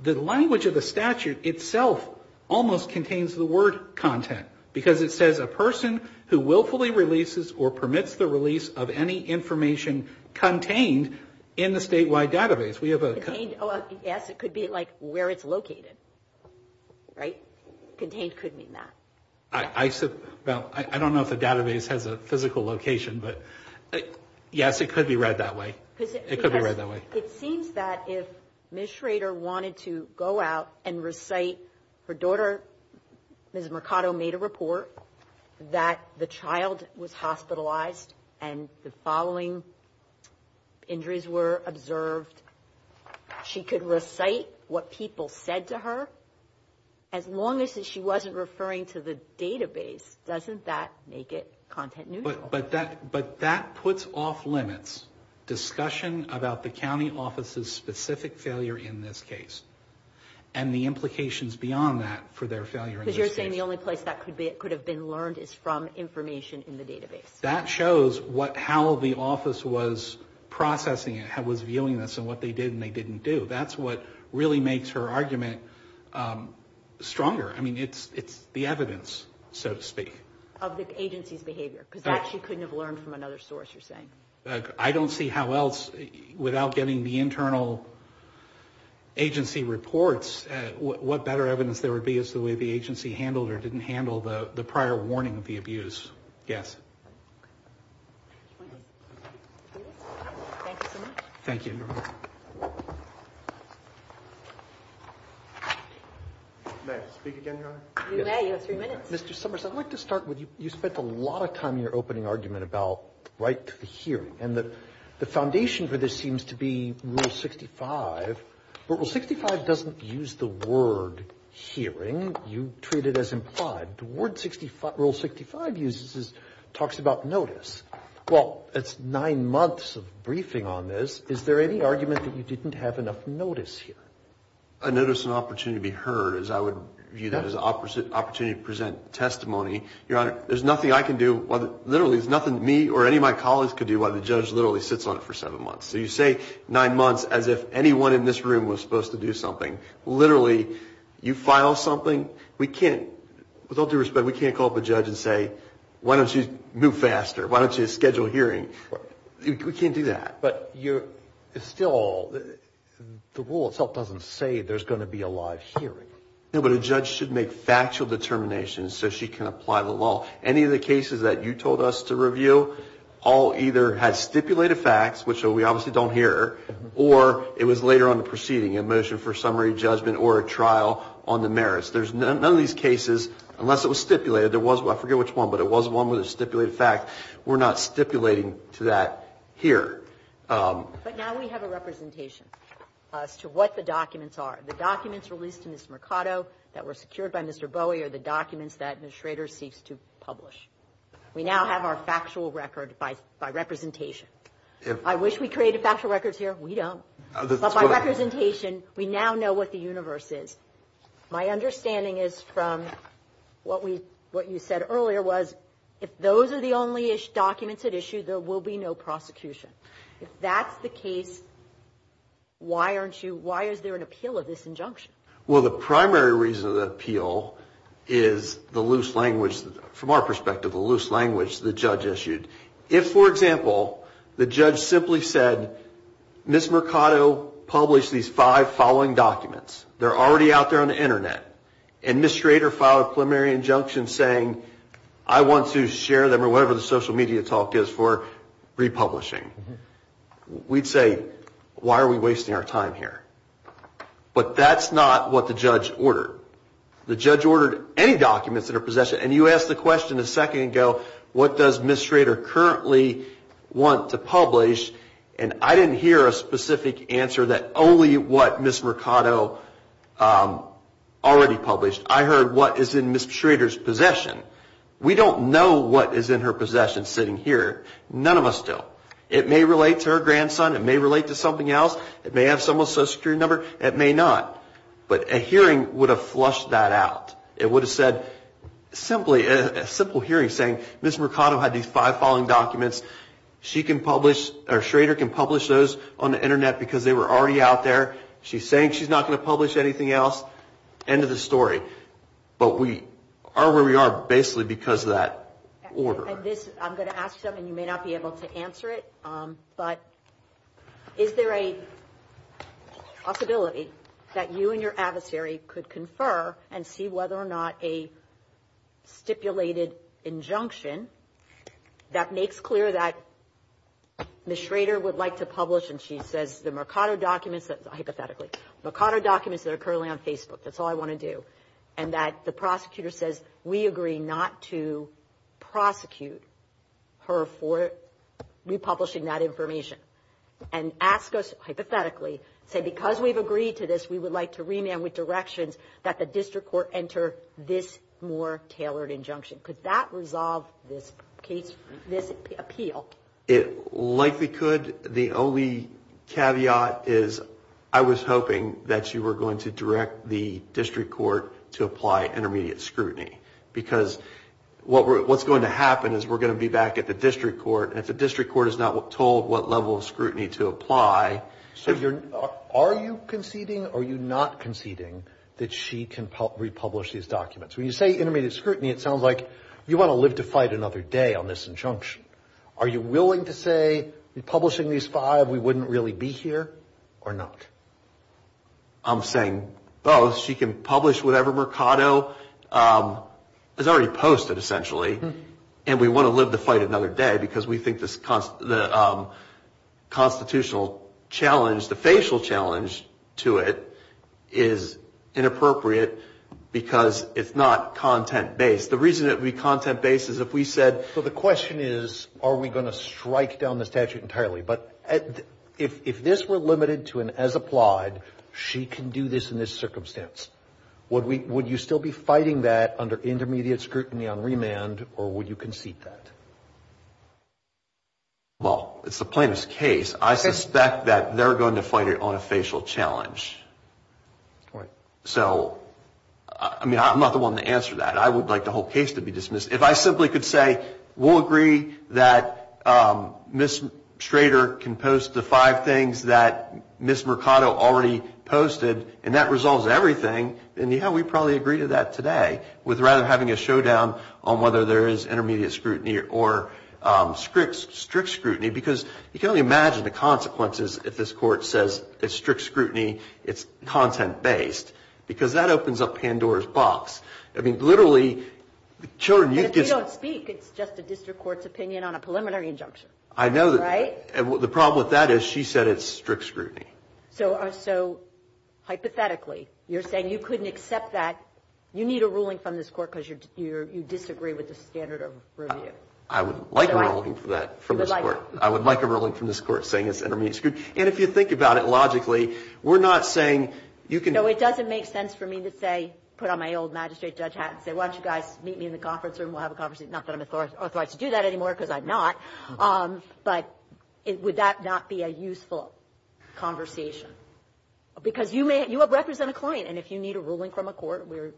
The language of the statute itself almost contains the word content because it says a person who willfully releases or permits the release of any information contained in the statewide database. Yes, it could be like where it's located, right? Contained could mean that. I don't know if the database has a physical location, but yes, it could be read that way. It seems that if Ms. Schrader wanted to go out and recite her daughter, Ms. Mercado made a report that the child was hospitalized and the following injuries were observed, she could recite what people said to her as long as she wasn't referring to the database, doesn't that make it content neutral? But that puts off limits discussion about the county office's specific failure in this case and the implications beyond that for their failure in this case. Because you're saying the only place that could have been learned is from information in the database. That shows how the office was processing it, was viewing this and what they did and what they didn't do. That's what really makes her argument stronger. I mean, it's the evidence, so to speak. Of the agency's behavior. Because that she couldn't have learned from another source, you're saying. I don't see how else, without getting the internal agency reports, what better evidence there would be as to the way the agency handled or didn't handle the prior warning of the abuse. Yes. Thank you. May I speak again, Your Honor? You may. You have three minutes. Mr. Summers, I'd like to start with you. You spent a lot of time in your opening argument about right to the hearing. And the foundation for this seems to be Rule 65. But Rule 65 doesn't use the word hearing. You treat it as implied. Rule 65 talks about notice. Well, it's nine months of briefing on this. Is there any argument that you didn't have enough notice here? I noticed an opportunity to be heard. I would view that as an opportunity to present testimony. Your Honor, there's nothing I can do. Literally, there's nothing me or any of my colleagues could do while the judge literally sits on it for seven months. So you say nine months as if anyone in this room was supposed to do something. Literally, you file something. With all due respect, we can't call up a judge and say, why don't you move faster? Why don't you schedule a hearing? We can't do that. But still, the rule itself doesn't say there's going to be a live hearing. No, but a judge should make factual determinations so she can apply the law. Any of the cases that you told us to review, all either had stipulated facts, which we obviously don't hear, or it was later on in the proceeding, a motion for summary judgment or a trial on the merits. None of these cases, unless it was stipulated, I forget which one, but it was one with a stipulated fact, we're not stipulating to that here. But now we have a representation as to what the documents are. The documents released to Ms. Mercado that were secured by Mr. Bowie are the documents that Ms. Schrader seeks to publish. We now have our factual record by representation. I wish we created factual records here. We don't. But by representation, we now know what the universe is. My understanding is from what you said earlier was, if those are the only documents at issue, there will be no prosecution. If that's the case, why aren't you, why is there an appeal of this injunction? Well, the primary reason of the appeal is the loose language, from our perspective, the loose language the judge issued. If, for example, the judge simply said, Ms. Mercado published these five following documents, they're already out there on the Internet, and Ms. Schrader filed a preliminary injunction saying, I want to share them or whatever the social media talk is for republishing. We'd say, why are we wasting our time here? But that's not what the judge ordered. The judge ordered any documents that are possession, and you asked the question a second ago, what does Ms. Schrader currently want to publish, and I didn't hear a specific answer that only what Ms. Mercado already published. I heard what is in Ms. Schrader's possession. We don't know what is in her possession sitting here. None of us do. It may relate to her grandson, it may relate to something else, it may have someone's social security number, it may not. But a hearing would have flushed that out. It would have said, simply, a simple hearing saying, Ms. Mercado had these five following documents, she can publish, or Schrader can publish those on the Internet because they were already out there. She's saying she's not going to publish anything else. End of the story. But we are where we are basically because of that order. I'm going to ask something. You may not be able to answer it, but is there a possibility that you and your adversary could confer and see whether or not a stipulated injunction that makes clear that Ms. Schrader would like to publish and she says the Mercado documents, hypothetically, Mercado documents that are currently on Facebook, that's all I want to do, and that the prosecutor says, we agree not to prosecute her for republishing that information. And ask us, hypothetically, say because we've agreed to this, we would like to remand with directions that the district court enter this more tailored injunction. Could that resolve this appeal? It likely could. The only caveat is I was hoping that you were going to direct the district court to apply intermediate scrutiny because what's going to happen is we're going to be back at the district court and if the district court is not told what level of scrutiny to apply... So are you conceding or are you not conceding that she can republish these documents? When you say intermediate scrutiny, it sounds like you want to live to fight another day on this injunction. Are you willing to say republishing these five, we wouldn't really be here or not? I'm saying both. She can publish whatever Mercado has already posted, essentially, and we want to live to fight another day because we think the constitutional challenge, the facial challenge to it, is inappropriate because it's not content-based. The reason it would be content-based is if we said... So the question is are we going to strike down the statute entirely? But if this were limited to an as-applied, she can do this in this circumstance. Would you still be fighting that under intermediate scrutiny on remand or would you concede that? Well, it's the plaintiff's case. I suspect that they're going to fight it on a facial challenge. I'm not the one to answer that. I would like the whole case to be dismissed. If I simply could say we'll agree that Ms. Schrader can post the five things that Ms. Mercado already posted and that resolves everything, then yeah, we'd probably agree to that today with rather having a showdown on whether there is intermediate scrutiny or strict scrutiny because you can only imagine the consequences if this court says it's strict scrutiny, it's content-based because that opens up Pandora's box. I mean, literally, children... But if you don't speak, it's just a district court's opinion on a preliminary injunction. I know. The problem with that is she said it's strict scrutiny. So hypothetically, you're saying you couldn't accept that. You need a ruling from this court because you disagree with the standard of review. I would like a ruling from this court saying it's intermediate scrutiny. And if you think about it logically, we're not saying you can... No, it doesn't make sense for me to put on my old magistrate judge hat and say, why don't you guys meet me in the conference room? We'll have a conversation. Not that I'm authorized to do that anymore because I'm not. But would that not be a useful conversation? Because you represent a client. And if you need a ruling from a court, we're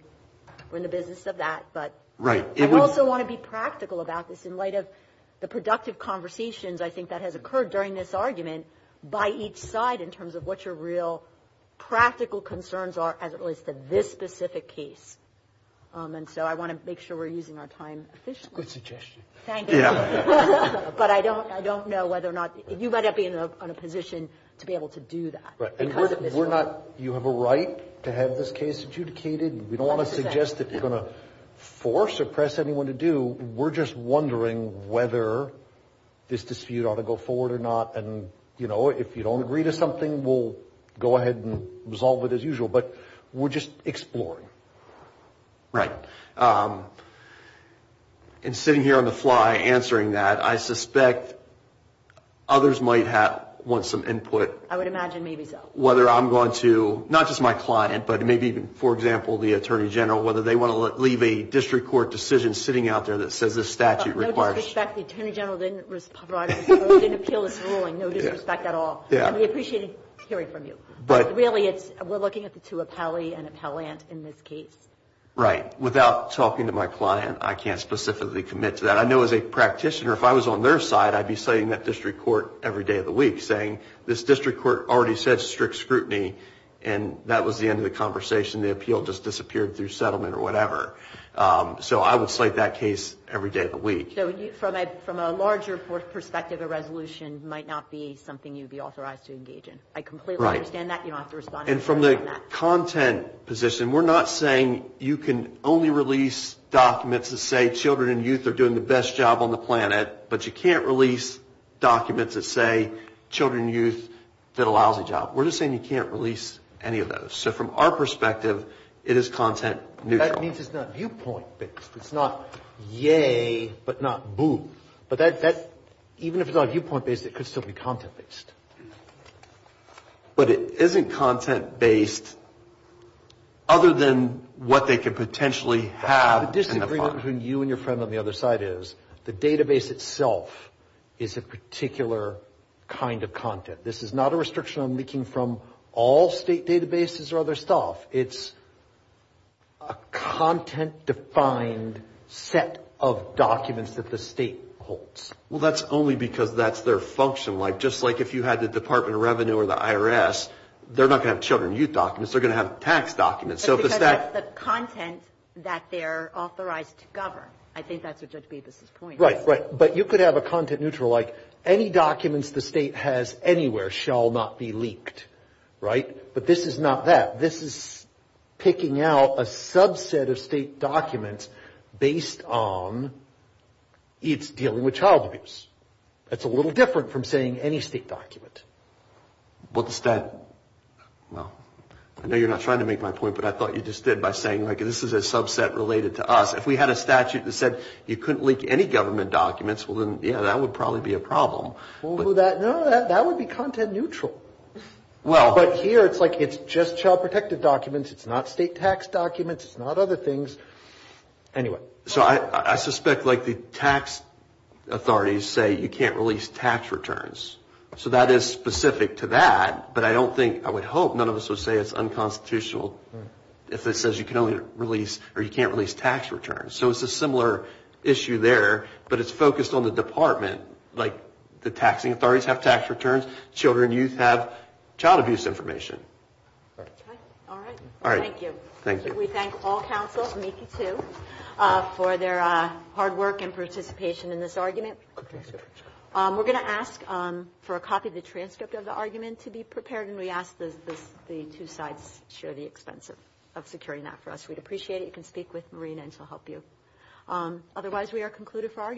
in the business of that. Right. I also want to be practical about this in light of the productive conversations I think that has occurred during this argument by each side in terms of what your real practical concerns are as it relates to this specific case. And so I want to make sure we're using our time efficiently. Good suggestion. Thank you. But I don't know whether or not... You might not be in a position to be able to do that. Right. You have a right to have this case adjudicated. We don't want to suggest that you're going to force or press anyone to do. We're just wondering whether this dispute ought to go forward or not. And, you know, if you don't agree to something, we'll go ahead and resolve it as usual. But we're just exploring. Right. And sitting here on the fly answering that, I suspect others might want some input... I would imagine maybe so. ...whether I'm going to, not just my client, but maybe even, for example, the Attorney General, whether they want to leave a district court decision sitting out there that says this statute requires... No disrespect. The Attorney General didn't appeal this ruling. No disrespect at all. And we appreciate hearing from you. But really, we're looking at the two, appellee and appellant, in this case. Right. Without talking to my client, I can't specifically commit to that. I know as a practitioner, if I was on their side, I'd be citing that district court every day of the week, saying this district court already said strict scrutiny and that was the end of the conversation. The appeal just disappeared through settlement or whatever. So I would cite that case every day of the week. So from a larger perspective, a resolution might not be something you'd be authorized to engage in. I completely understand that. You don't have to respond to me on that. And from the content position, we're not saying you can only release documents that say children and youth are doing the best job on the planet, but you can't release documents that say children and youth did a lousy job. We're just saying you can't release any of those. So from our perspective, it is content neutral. That means it's not viewpoint-based. It's not yay, but not boo. But even if it's not viewpoint-based, it could still be content-based. But it isn't content-based other than what they could potentially have in the file. The disagreement between you and your friend on the other side is the database itself is a particular kind of content. This is not a restriction on leaking from all state databases or other stuff. It's a content-defined set of documents that the state holds. Well, that's only because that's their function. Just like if you had the Department of Revenue or the IRS, they're not going to have children and youth documents. They're going to have tax documents. That's because that's the content that they're authorized to govern. I think that's what Judge Bevis' point is. Right, right. But you could have a content neutral like picking out a subset of state documents based on its dealing with child abuse. That's a little different from saying any state document. Well, I know you're not trying to make my point, but I thought you just did by saying this is a subset related to us. If we had a statute that said you couldn't leak any government documents, well, then, yeah, that would probably be a problem. No, that would be content neutral. But here, it's just child protective documents. It's not state tax documents. It's not other things. Anyway. I suspect the tax authorities say you can't release tax returns. That is specific to that, but I would hope none of us would say it's unconstitutional if it says you can't release tax returns. It's a similar issue there, but it's focused on the department. The taxing authorities have tax returns. Children and youth have child abuse information. All right. Thank you. We thank all counsels, me too, for their hard work and participation in this argument. We're going to ask for a copy of the transcript of the argument to be prepared, and we ask that the two sides share the expense of securing that for us. We'd appreciate it. You can speak with Marina, and she'll help you. Otherwise, we are concluded for argument.